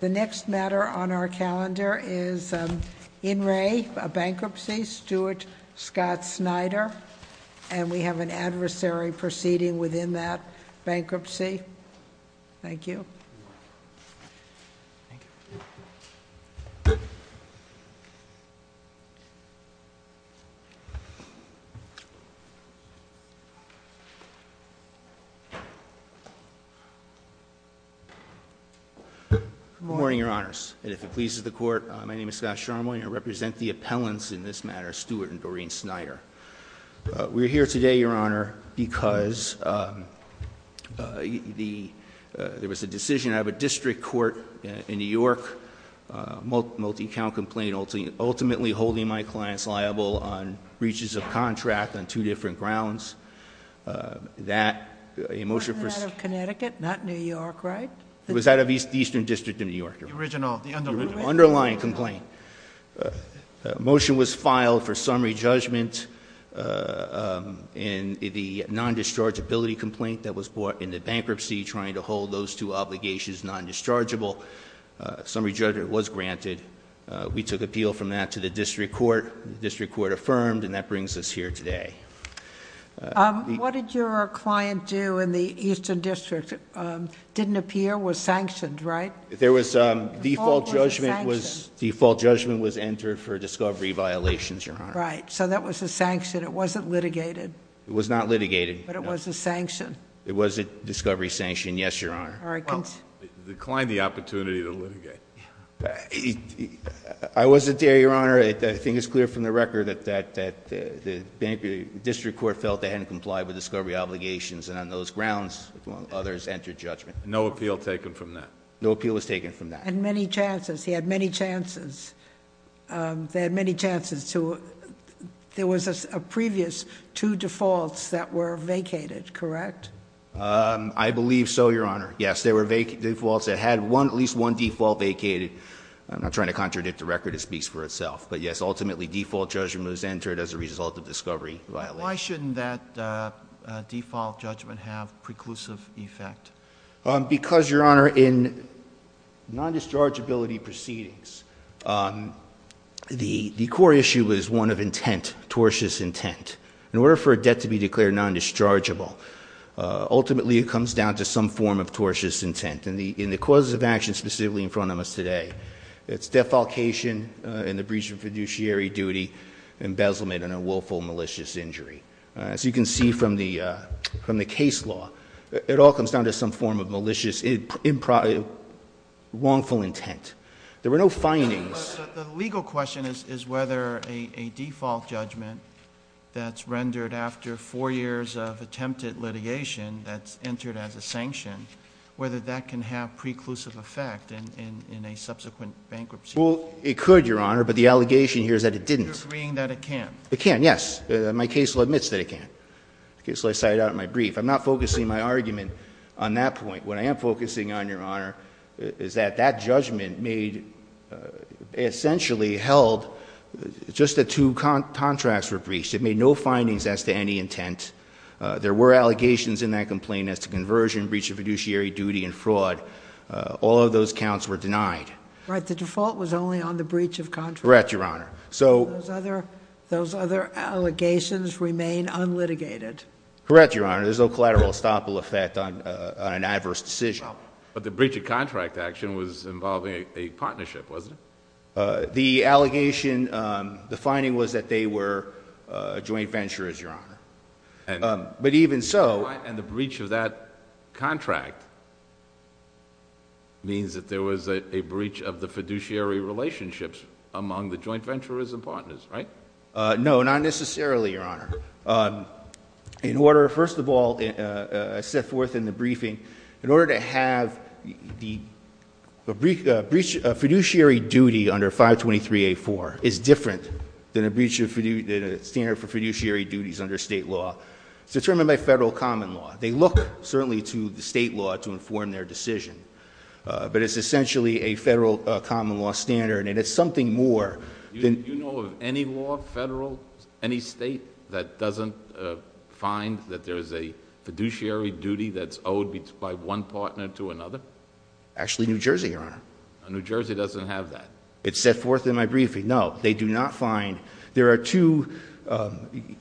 The next matter on our calendar is in re bankruptcy Stuart Scott Snyder and we have an adversary proceeding within that bankruptcy. Thank you. Good morning, your honors, and if it pleases the court, my name is Scott Sharma and I represent the appellants in this matter, Stuart and Doreen Snyder. We're here today, your honor, because there was a decision out of a district court in New York, a multi-account complaint ultimately holding my clients liable on breaches of contract on two different grounds. Was it out of Connecticut, not New York, right? It was out of the Eastern District of New York, your honor. The original, the underlying complaint. The underlying complaint. The motion was filed for summary judgment in the non-dischargeability complaint that was brought into bankruptcy trying to hold those two obligations non-dischargeable. Summary judgment was granted. We took appeal from that to the district court. The district court affirmed and that brings us here today. What did your client do in the Eastern District? Didn't appear, was sanctioned, right? There was default judgment was entered for discovery violations, your honor. Right. So that was a sanction. It wasn't litigated. It was not litigated. But it was a sanction. It was a discovery sanction, yes, your honor. Well, it declined the opportunity to litigate. I wasn't there, your honor. I think it's clear from the record that the district court felt they hadn't complied with discovery obligations and on those grounds others entered judgment. No appeal taken from that. No appeal was taken from that. And many chances. He had many chances. They had many chances to, there was a previous two defaults that were vacated, correct? I believe so, your honor. Yes, there were defaults that had one, at least one default vacated. I'm not trying to contradict the record. It speaks for itself. But yes, ultimately default judgment was entered as a result of discovery violations. Why shouldn't that default judgment have preclusive effect? Because, your honor, in non-dischargeability proceedings, the core issue is one of intent, tortious intent. In order for a debt to be declared non-dischargeable, ultimately it comes down to some form of tortious intent. In the cause of action specifically in front of us today, it's defalcation in the breach of fiduciary duty, embezzlement, and a willful malicious injury. As you can see from the case law, it all comes down to some form of malicious, wrongful intent. There were no findings. The legal question is whether a default judgment that's rendered after four years of attempted litigation that's entered as a sanction, whether that can have preclusive effect in a subsequent bankruptcy. Well, it could, your honor, but the allegation here is that it didn't. You're agreeing that it can't. It can, yes. My case law admits that it can. Case law cited out in my brief. I'm not focusing my argument on that point. What I am focusing on, your honor, is that that judgment made, essentially held, just the two contracts were breached. It made no findings as to any intent. There were allegations in that complaint as to conversion, breach of fiduciary duty, and fraud. All of those counts were denied. Right, the default was only on the breach of contract. Correct, your honor. So. Those other allegations remain unlitigated. Correct, your honor. There's no collateral estoppel effect on an adverse decision. But the breach of contract action was involving a partnership, wasn't it? The allegation, the finding was that they were joint venturers, your honor. But even so. And the breach of that contract means that there was a breach of the fiduciary relationships among the joint venturers and partners, right? No, not necessarily, your honor. In order, first of all, I set forth in the briefing, in order to have a fiduciary duty under 523A4 is different than a standard for fiduciary duties under state law. It's determined by federal common law. They look, certainly, to the state law to inform their decision. But it's essentially a federal common law standard, and it's something more than- Do you find that there's a fiduciary duty that's owed by one partner to another? Actually, New Jersey, your honor. New Jersey doesn't have that. It's set forth in my briefing. No, they do not find. There are two,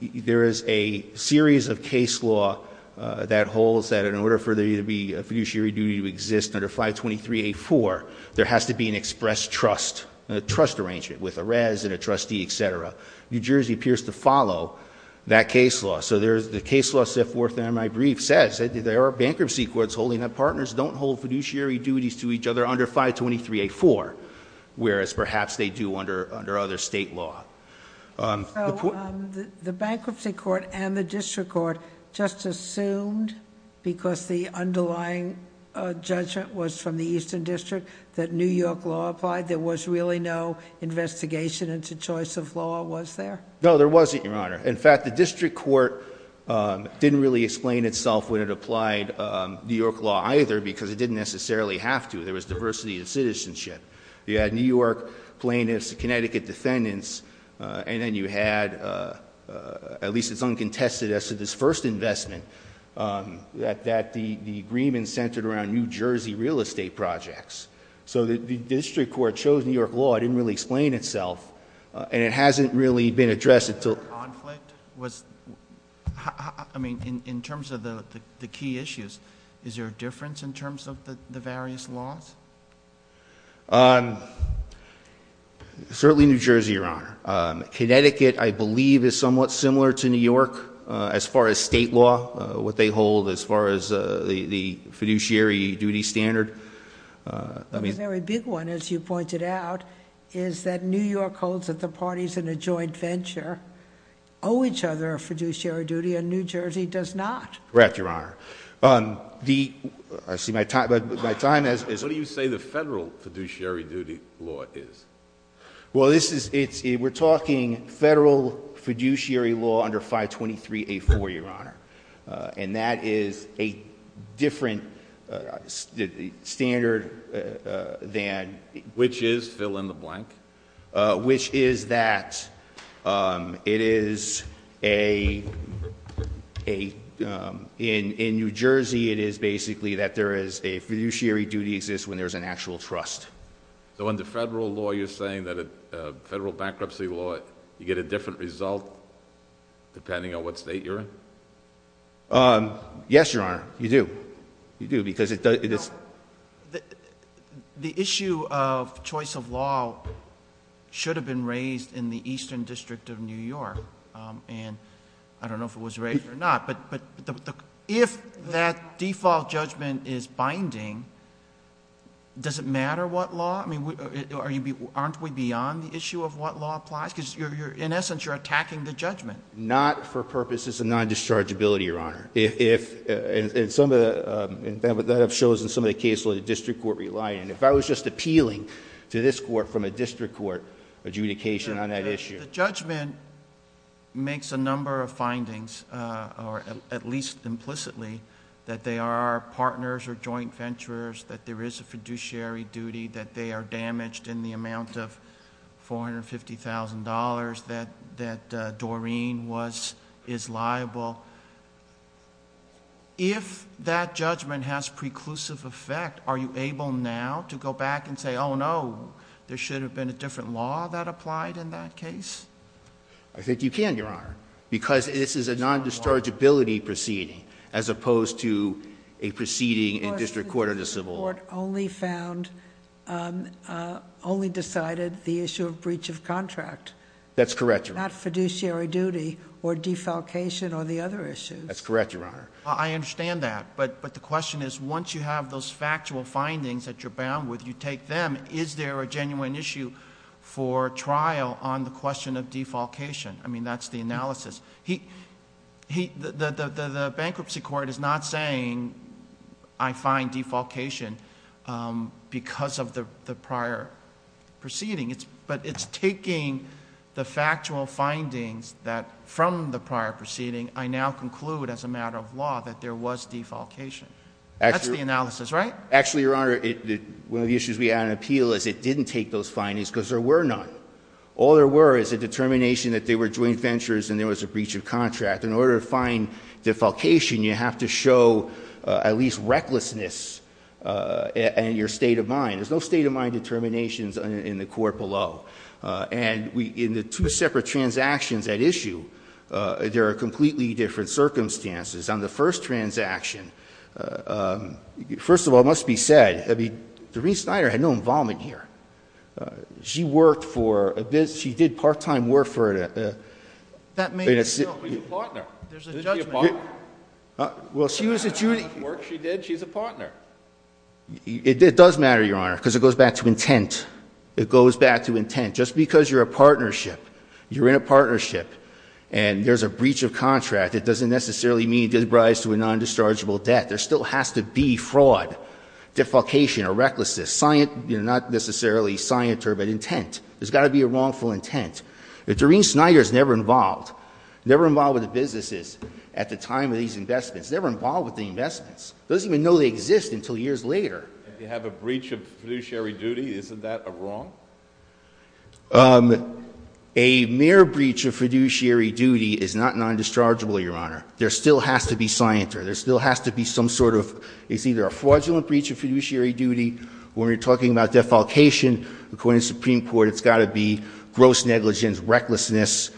there is a series of case law that holds that in order for there to be a fiduciary duty to exist under 523A4, there has to be an express trust. A trust arrangement with a res and a trustee, etc. New Jersey appears to follow that case law. The case law set forth in my brief says that there are bankruptcy courts holding that partners don't hold fiduciary duties to each other under 523A4. Whereas, perhaps they do under other state law. The bankruptcy court and the district court just assumed, because the underlying judgment was from the Eastern District, that New York law applied. There was really no investigation into choice of law, was there? No, there wasn't, your honor. In fact, the district court didn't really explain itself when it applied New York law either, because it didn't necessarily have to. There was diversity of citizenship. You had New York plaintiffs, Connecticut defendants, and then you had, at least it's uncontested as to this first investment, that the agreement centered around New Jersey real estate projects. So the district court chose New York law, it didn't really explain itself, and it hasn't really been addressed until- I mean, in terms of the key issues, is there a difference in terms of the various laws? Certainly New Jersey, your honor. Connecticut, I believe, is somewhat similar to New York as far as state law, what they hold, as far as the fiduciary duty standard. I mean- A very big one, as you pointed out, is that New York holds that the parties in a joint venture owe each other a fiduciary duty, and New Jersey does not. Correct, your honor. I see my time has- What do you say the federal fiduciary duty law is? Well, we're talking federal fiduciary law under 523A4, your honor. And that is a different standard than- Which is, fill in the blank. Which is that it is a, in New Jersey, it is basically that there is a fiduciary duty exists when there's an actual trust. So under federal law, you're saying that federal bankruptcy law, you get a different result depending on what state you're in? Yes, your honor, you do. You do, because it is- The issue of choice of law should have been raised in the Eastern District of New York. And I don't know if it was raised or not, but if that default judgment is binding, does it matter what law? I mean, aren't we beyond the issue of what law applies? Because in essence, you're attacking the judgment. Not for purposes of non-dischargeability, your honor. And that shows in some of the cases the district court relied on. If I was just appealing to this court from a district court adjudication on that issue. The judgment makes a number of findings, or at least implicitly, that they are partners or joint venturers, that there is a fiduciary duty, that they are damaged in the amount of $450,000, that Doreen is liable. If that judgment has preclusive effect, are you able now to go back and say, no, there should have been a different law that applied in that case? I think you can, your honor, because this is a non-dischargeability proceeding, as opposed to a proceeding in district court or the civil- Court only found, only decided the issue of breach of contract. That's correct, your honor. Not fiduciary duty or defalcation or the other issues. That's correct, your honor. I understand that, but the question is, once you have those factual findings that you're bound with, you take them. Is there a genuine issue for trial on the question of defalcation? I mean, that's the analysis. The bankruptcy court is not saying I find defalcation because of the prior proceeding. But it's taking the factual findings that from the prior proceeding, I now conclude as a matter of law that there was defalcation. That's the analysis, right? Actually, your honor, one of the issues we had in appeal is it didn't take those findings because there were none. All there were is a determination that they were joint ventures and there was a breach of contract. In order to find defalcation, you have to show at least recklessness and your state of mind. There's no state of mind determinations in the court below. And in the two separate transactions at issue, there are completely different circumstances. On the first transaction, first of all, it must be said, I mean, Doreen Snyder had no involvement here. She worked for, she did part-time work for- That may be a partner. There's a judgment. Well, she was a junior- She worked, she did, she's a partner. It does matter, your honor, because it goes back to intent. It goes back to intent. Just because you're a partnership, you're in a partnership, and there's a breach of contract, it doesn't necessarily mean there's a rise to a non-dischargeable debt. There still has to be fraud, defalcation, or recklessness. Not necessarily scienter, but intent. There's got to be a wrongful intent. Doreen Snyder's never involved. Never involved with the businesses at the time of these investments. Never involved with the investments. Doesn't even know they exist until years later. If you have a breach of fiduciary duty, isn't that a wrong? A mere breach of fiduciary duty is not non-dischargeable, your honor. There still has to be scienter. There still has to be some sort of, it's either a fraudulent breach of fiduciary duty, or when you're talking about defalcation, according to the Supreme Court, it's got to be gross negligence, recklessness.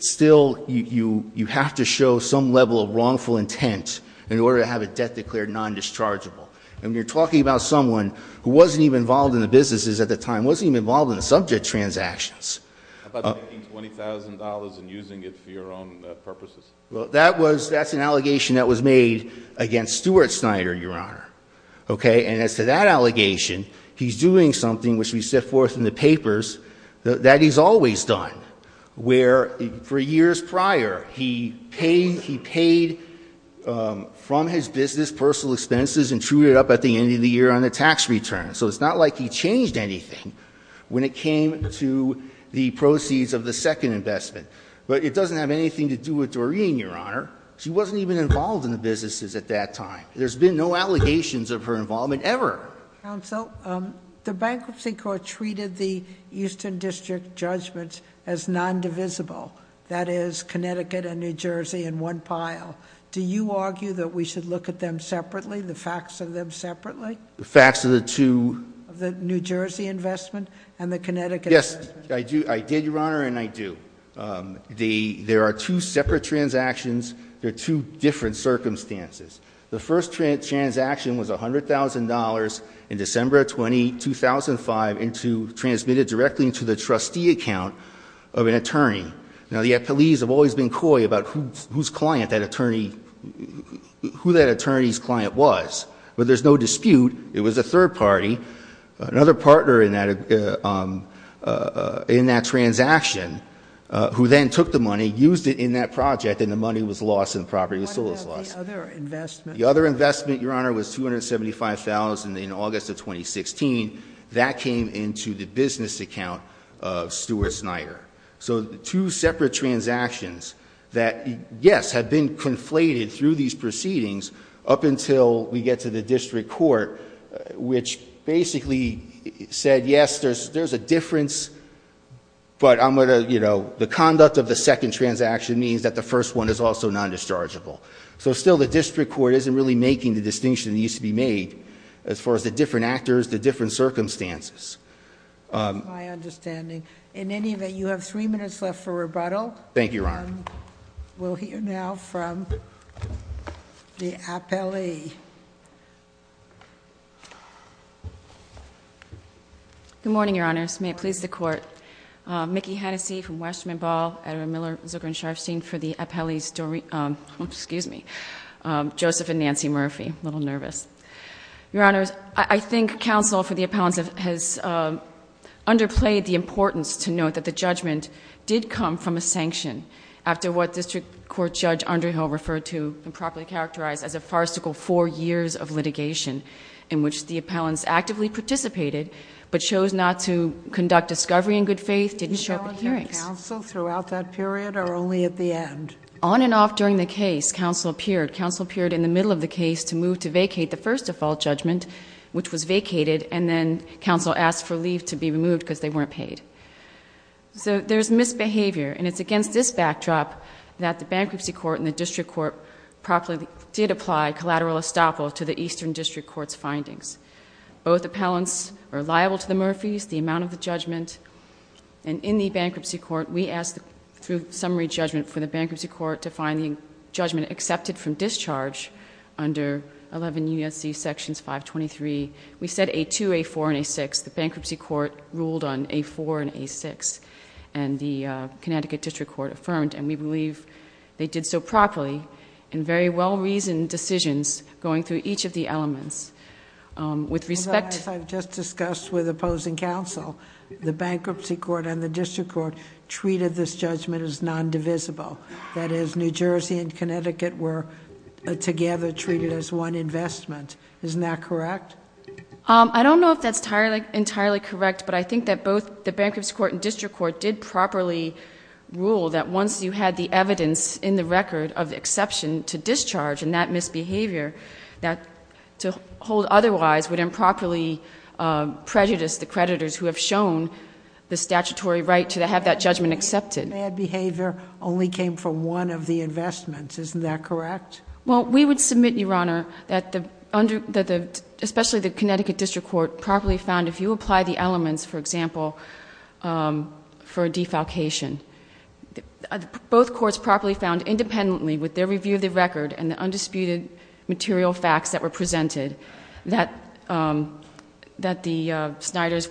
Still, you have to show some level of wrongful intent in order to have a debt declared non-dischargeable. And you're talking about someone who wasn't even involved in the businesses at the time, wasn't even involved in the subject transactions. How about making $20,000 and using it for your own purposes? Well, that's an allegation that was made against Stuart Snyder, your honor. Okay, and as to that allegation, he's doing something which we set forth in the papers that he's always done. Where for years prior, he paid from his business personal expenses and trued it up at the end of the year on a tax return, so it's not like he changed anything. When it came to the proceeds of the second investment. But it doesn't have anything to do with Doreen, your honor. She wasn't even involved in the businesses at that time. There's been no allegations of her involvement ever. Counsel, the Bankruptcy Court treated the Eastern District judgments as non-divisible. That is, Connecticut and New Jersey in one pile. Do you argue that we should look at them separately, the facts of them separately? The facts of the two- Of the New Jersey investment and the Connecticut investment? Yes, I did, your honor, and I do. There are two separate transactions. They're two different circumstances. The first transaction was $100,000 in December of 2005, transmitted directly into the trustee account of an attorney. Now, the appellees have always been coy about who that attorney's client was. But there's no dispute, it was a third party, another partner in that transaction, who then took the money, used it in that project, and the money was lost and the property was sold as lost. What about the other investment? The other investment, your honor, was $275,000 in August of 2016. That came into the business account of Stuart Snyder. So two separate transactions that, yes, have been conflated through these proceedings up until we get to the district court, which basically said, yes, there's a difference, but the conduct of the second transaction means that the first one is also non-dischargeable. So still, the district court isn't really making the distinction that needs to be made as far as the different actors, the different circumstances. My understanding. In any event, you have three minutes left for rebuttal. Thank you, your honor. We'll hear now from the appellee. Good morning, your honors. May it please the court. Mickey Hennessey from Westman Ball, Adam Miller, Zucker and Sharfstein for the appellee's story. Excuse me, Joseph and Nancy Murphy, a little nervous. Your honors, I think counsel for the appellants has underplayed the importance to note that the judgment did come from a sanction after what District Court Judge Underhill referred to and properly characterized as a farcical four years of litigation in which the appellants actively participated. But chose not to conduct discovery in good faith, didn't show up at hearings. Counsel throughout that period or only at the end? On and off during the case, counsel appeared. Counsel appeared in the middle of the case to move to vacate the first default judgment, which was vacated. And then, counsel asked for leave to be removed because they weren't paid. So there's misbehavior, and it's against this backdrop that the bankruptcy court and the district court properly did apply collateral estoppel to the Eastern District Court's findings. Both appellants are liable to the Murphys, the amount of the judgment. And in the bankruptcy court, we asked through summary judgment for the bankruptcy court to find the judgment accepted from discharge under 11 U.S.C. Sections 523, we said A2, A4, and A6. The bankruptcy court ruled on A4 and A6. And the Connecticut District Court affirmed, and we believe they did so properly in very well-reasoned decisions going through each of the elements. With respect- As I've just discussed with opposing counsel, the bankruptcy court and the district court treated this judgment as non-divisible. That is, New Jersey and Connecticut were together treated as one investment. Isn't that correct? I don't know if that's entirely correct, but I think that both the bankruptcy court and district court did properly rule that once you had the evidence in the record of the exception to discharge and that misbehavior, that to hold otherwise would improperly prejudice the creditors who have shown the statutory right to have that judgment accepted. Bad behavior only came from one of the investments. Isn't that correct? Well, we would submit, Your Honor, that the, especially the Connecticut District Court, properly found if you apply the elements, for example, for defalcation. Both courts properly found independently with their review of the record and the undisputed material facts that were presented, that the Sniders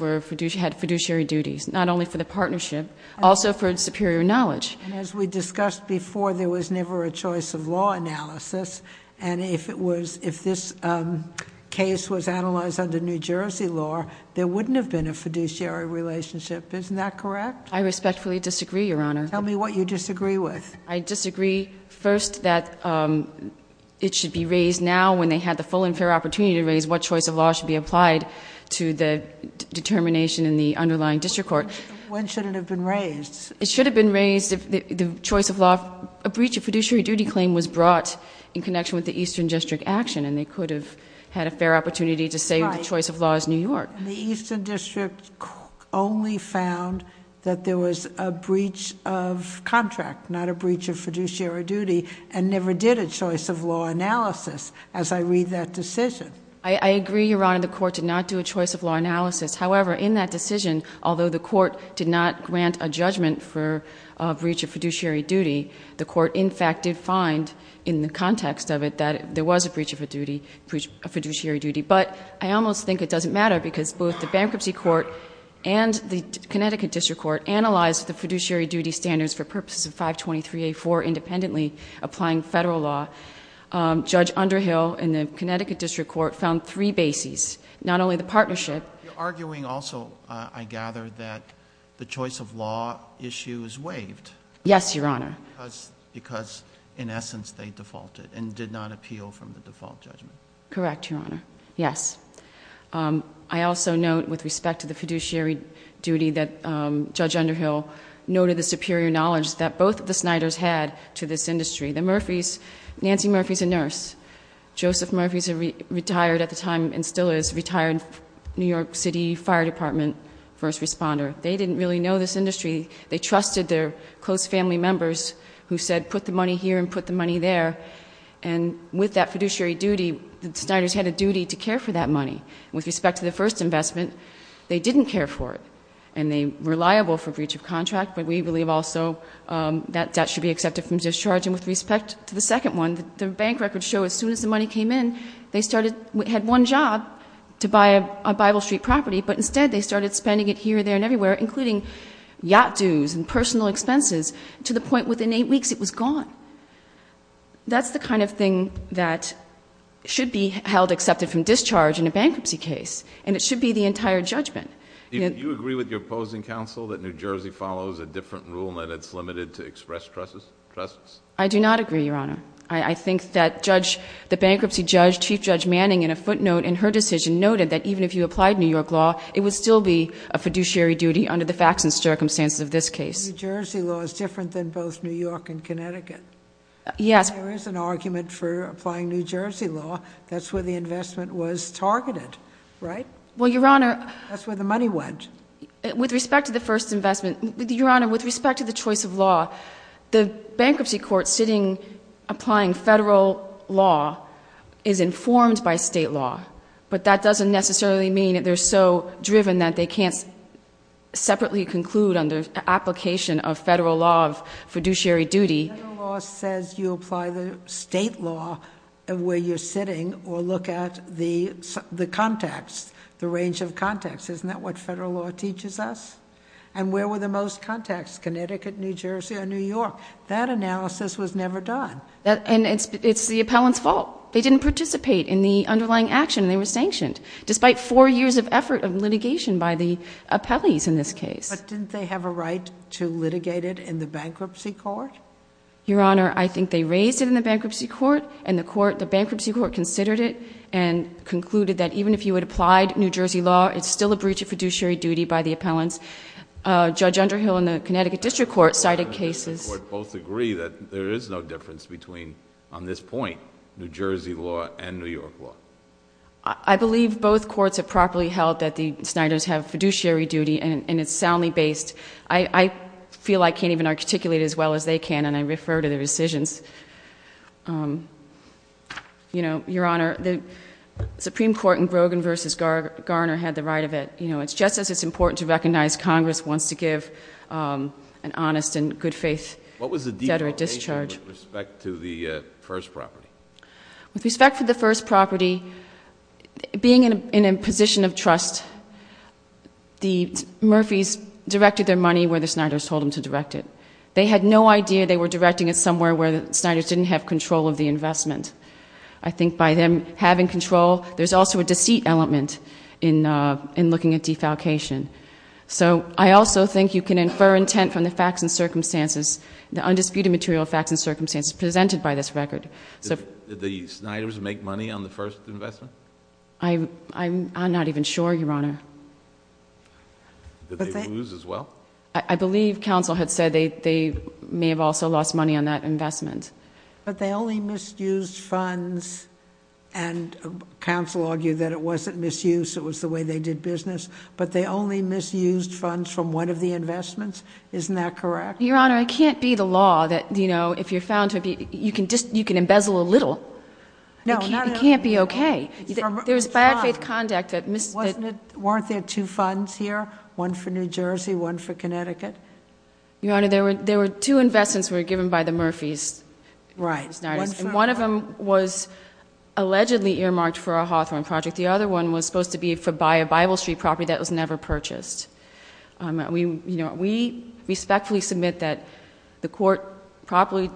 had fiduciary duties, not only for the partnership, also for superior knowledge. And as we discussed before, there was never a choice of law analysis. And if this case was analyzed under New Jersey law, there wouldn't have been a fiduciary relationship. Isn't that correct? I respectfully disagree, Your Honor. Tell me what you disagree with. I disagree first that it should be raised now when they had the full and fair opportunity to raise what choice of law should be applied to the determination in the underlying district court. When should it have been raised? It should have been raised if the choice of law, a breach of fiduciary duty claim was brought in connection with the Eastern District action, and they could have had a fair opportunity to say the choice of law is New York. The Eastern District only found that there was a breach of contract, not a breach of fiduciary duty, and never did a choice of law analysis as I read that decision. I agree, Your Honor, the court did not do a choice of law analysis. However, in that decision, although the court did not grant a judgment for a breach of fiduciary duty, the court in fact did find in the context of it that there was a breach of fiduciary duty. But I almost think it doesn't matter because both the bankruptcy court and the Connecticut District Court analyzed the fiduciary duty standards for purposes of 523A4 independently applying federal law. Judge Underhill in the Connecticut District Court found three bases, not only the partnership. You're arguing also, I gather, that the choice of law issue is waived. Yes, Your Honor. Because in essence they defaulted and did not appeal from the default judgment. Correct, Your Honor, yes. I also note with respect to the fiduciary duty that Judge Underhill noted the superior knowledge that both of the Snyders had to this industry. The Murphys, Nancy Murphy's a nurse. Joseph Murphy's retired at the time and still is, retired New York City Fire Department first responder. They didn't really know this industry. They trusted their close family members who said put the money here and put the money there. And with that fiduciary duty, the Snyders had a duty to care for that money. With respect to the first investment, they didn't care for it. And they were reliable for breach of contract, but we believe also that that should be accepted from discharge. And with respect to the second one, the bank records show as soon as the money came in, they had one job to buy a Bible Street property, but instead they started spending it here, there, and everywhere. Including yacht dues and personal expenses to the point within eight weeks it was gone. So that's the kind of thing that should be held accepted from discharge in a bankruptcy case, and it should be the entire judgment. Do you agree with your opposing counsel that New Jersey follows a different rule and it's limited to express trusts? I do not agree, Your Honor. I think that the bankruptcy judge, Chief Judge Manning, in a footnote in her decision, noted that even if you applied New York law, it would still be a fiduciary duty under the facts and circumstances of this case. Yes. There is an argument for applying New Jersey law. That's where the investment was targeted, right? Well, Your Honor. That's where the money went. With respect to the first investment, Your Honor, with respect to the choice of law, the bankruptcy court sitting applying federal law is informed by state law. But that doesn't necessarily mean that they're so driven that they can't separately conclude under application of federal law of fiduciary duty. Federal law says you apply the state law where you're sitting or look at the contacts, the range of contacts. Isn't that what federal law teaches us? And where were the most contacts, Connecticut, New Jersey, or New York? That analysis was never done. And it's the appellant's fault. They didn't participate in the underlying action. They were sanctioned, despite four years of effort of litigation by the appellees in this case. But didn't they have a right to litigate it in the bankruptcy court? Your Honor, I think they raised it in the bankruptcy court, and the bankruptcy court considered it and concluded that even if you had applied New Jersey law, it's still a breach of fiduciary duty by the appellants. Judge Underhill in the Connecticut District Court cited cases. Both agree that there is no difference between, on this point, New Jersey law and New York law. I believe both courts have properly held that the Sniders have fiduciary duty, and it's soundly based. I feel I can't even articulate it as well as they can, and I refer to their decisions. Your Honor, the Supreme Court in Brogan versus Garner had the right of it. It's just as it's important to recognize Congress wants to give an honest and good faith debtor at discharge. What was the deal with respect to the first property? With respect to the first property, being in a position of trust, the Murphys directed their money where the Sniders told them to direct it. They had no idea they were directing it somewhere where the Sniders didn't have control of the investment. I think by them having control, there's also a deceit element in looking at defalcation. So I also think you can infer intent from the facts and circumstances, the undisputed material facts and circumstances presented by this record. Did the Sniders make money on the first investment? I'm not even sure, Your Honor. Did they lose as well? I believe counsel had said they may have also lost money on that investment. But they only misused funds, and counsel argued that it wasn't misuse, it was the way they did business. But they only misused funds from one of the investments, isn't that correct? Your Honor, it can't be the law that if you're found to be, you can embezzle a little. It can't be okay. There's bad faith conduct that- Weren't there two funds here? One for New Jersey, one for Connecticut? Your Honor, there were two investments that were given by the Murphys. Right. And one of them was allegedly earmarked for a Hawthorne project. The other one was supposed to be to buy a Bible Street property that was never purchased. We respectfully submit that the court properly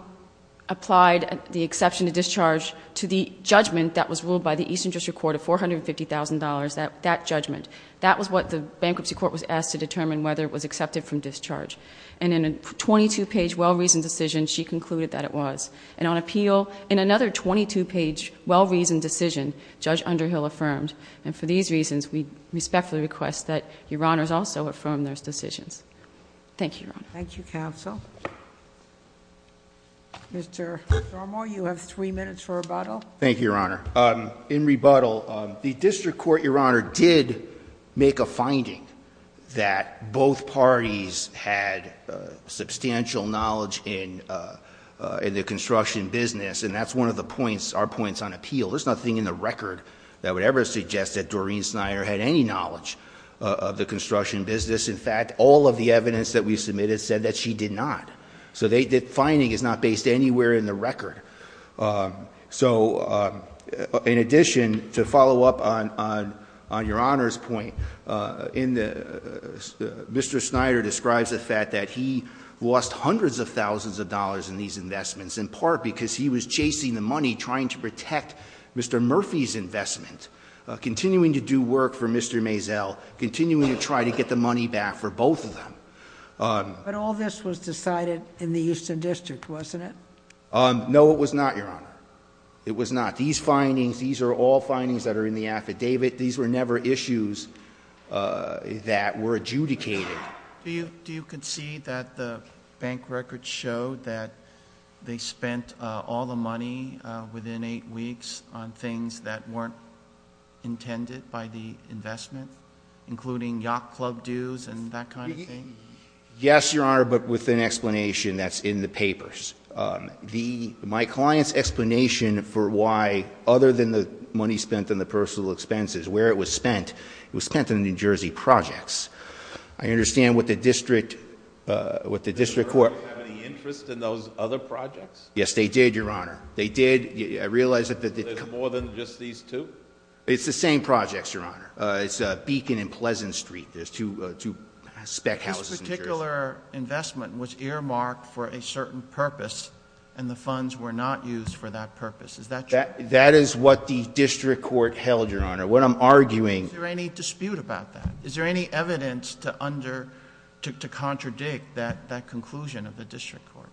applied the exception to discharge to the judgment that was ruled by the Eastern District Court of $450,000, that judgment. That was what the bankruptcy court was asked to determine whether it was accepted from discharge. And in a 22-page well-reasoned decision, she concluded that it was. And on appeal, in another 22-page well-reasoned decision, Judge Underhill affirmed. And for these reasons, we respectfully request that Your Honors also affirm those decisions. Thank you, Your Honor. Thank you, counsel. Mr. Drummore, you have three minutes for rebuttal. Thank you, Your Honor. In rebuttal, the district court, Your Honor, did make a finding that both parties had substantial knowledge in the construction business. And that's one of our points on appeal. There's nothing in the record that would ever suggest that Doreen Snyder had any knowledge of the construction business. In fact, all of the evidence that we submitted said that she did not. So the finding is not based anywhere in the record. So in addition, to follow up on Your Honor's point, Mr. Snyder describes the fact that he lost hundreds of thousands of dollars in these investments. In part because he was chasing the money trying to protect Mr. Murphy's investment. Continuing to do work for Mr. Maisel. Continuing to try to get the money back for both of them. But all this was decided in the Houston district, wasn't it? No, it was not, Your Honor. It was not. These findings, these are all findings that are in the affidavit. These were never issues that were adjudicated. Do you concede that the bank records show that they spent all the money within eight weeks on things that weren't intended by the investment? Including yacht club dues and that kind of thing? Yes, Your Honor, but with an explanation that's in the papers. My client's explanation for why, other than the money spent on the personal expenses, where it was spent, it was spent on New Jersey projects. I understand what the district, what the district court- Did the district court have any interest in those other projects? Yes, they did, Your Honor. They did, I realize that- Were there more than just these two? It's the same projects, Your Honor. It's Beacon and Pleasant Street. There's two spec houses in New Jersey. This particular investment was earmarked for a certain purpose, and the funds were not used for that purpose. Is that true? That is what the district court held, Your Honor. What I'm arguing- Is there any dispute about that? Is there any evidence to contradict that conclusion of the district court?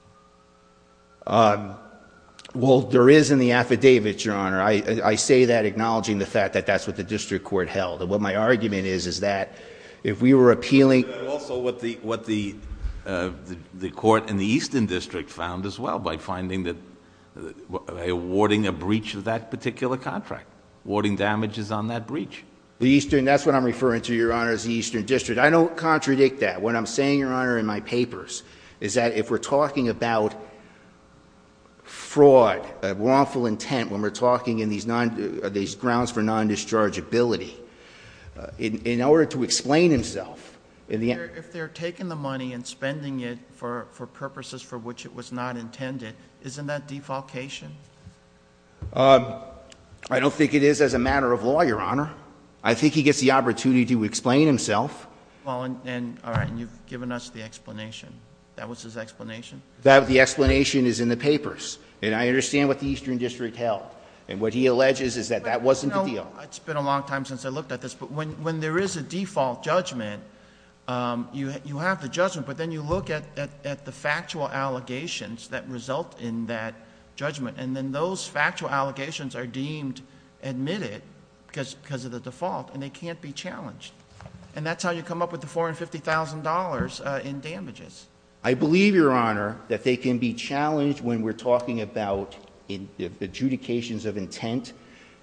Well, there is in the affidavit, Your Honor. I say that acknowledging the fact that that's what the district court held. And what my argument is, is that if we were appealing- But also what the court in the Eastern District found as well, by finding that they're awarding a breach of that particular contract. Awarding damages on that breach. The Eastern, that's what I'm referring to, Your Honor, is the Eastern District. I don't contradict that. What I'm saying, Your Honor, in my papers, is that if we're talking about fraud, wrongful intent, when we're talking in these grounds for non-dischargeability, in order to explain himself. In the end- If they're taking the money and spending it for purposes for which it was not intended, isn't that defalcation? I don't think it is as a matter of law, Your Honor. I think he gets the opportunity to explain himself. All right, and you've given us the explanation. That was his explanation? The explanation is in the papers, and I understand what the Eastern District held. And what he alleges is that that wasn't the deal. It's been a long time since I looked at this, but when there is a default judgment, you have the judgment. But then you look at the factual allegations that result in that judgment. And then those factual allegations are deemed admitted because of the default, and they can't be challenged. And that's how you come up with the $450,000 in damages. I believe, Your Honor, that they can be challenged when we're talking about adjudications of intent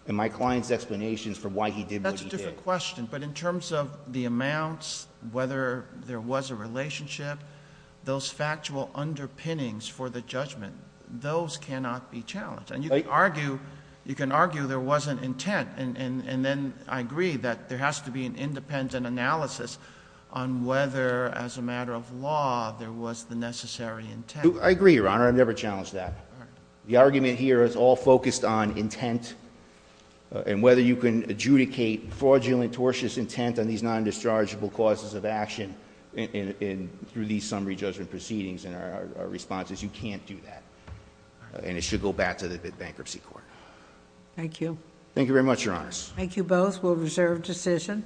and my client's explanations for why he did what he did. It's a different question, but in terms of the amounts, whether there was a relationship, those factual underpinnings for the judgment, those cannot be challenged. And you can argue there wasn't intent, and then I agree that there has to be an independent analysis on whether, as a matter of law, there was the necessary intent. I agree, Your Honor, I've never challenged that. The argument here is all focused on intent, and whether you can adjudicate fraudulent, tortious intent on these non-dischargeable causes of action through these summary judgment proceedings. And our response is you can't do that, and it should go back to the bankruptcy court. Thank you. Thank you very much, Your Honors. Thank you both. We'll reserve decision.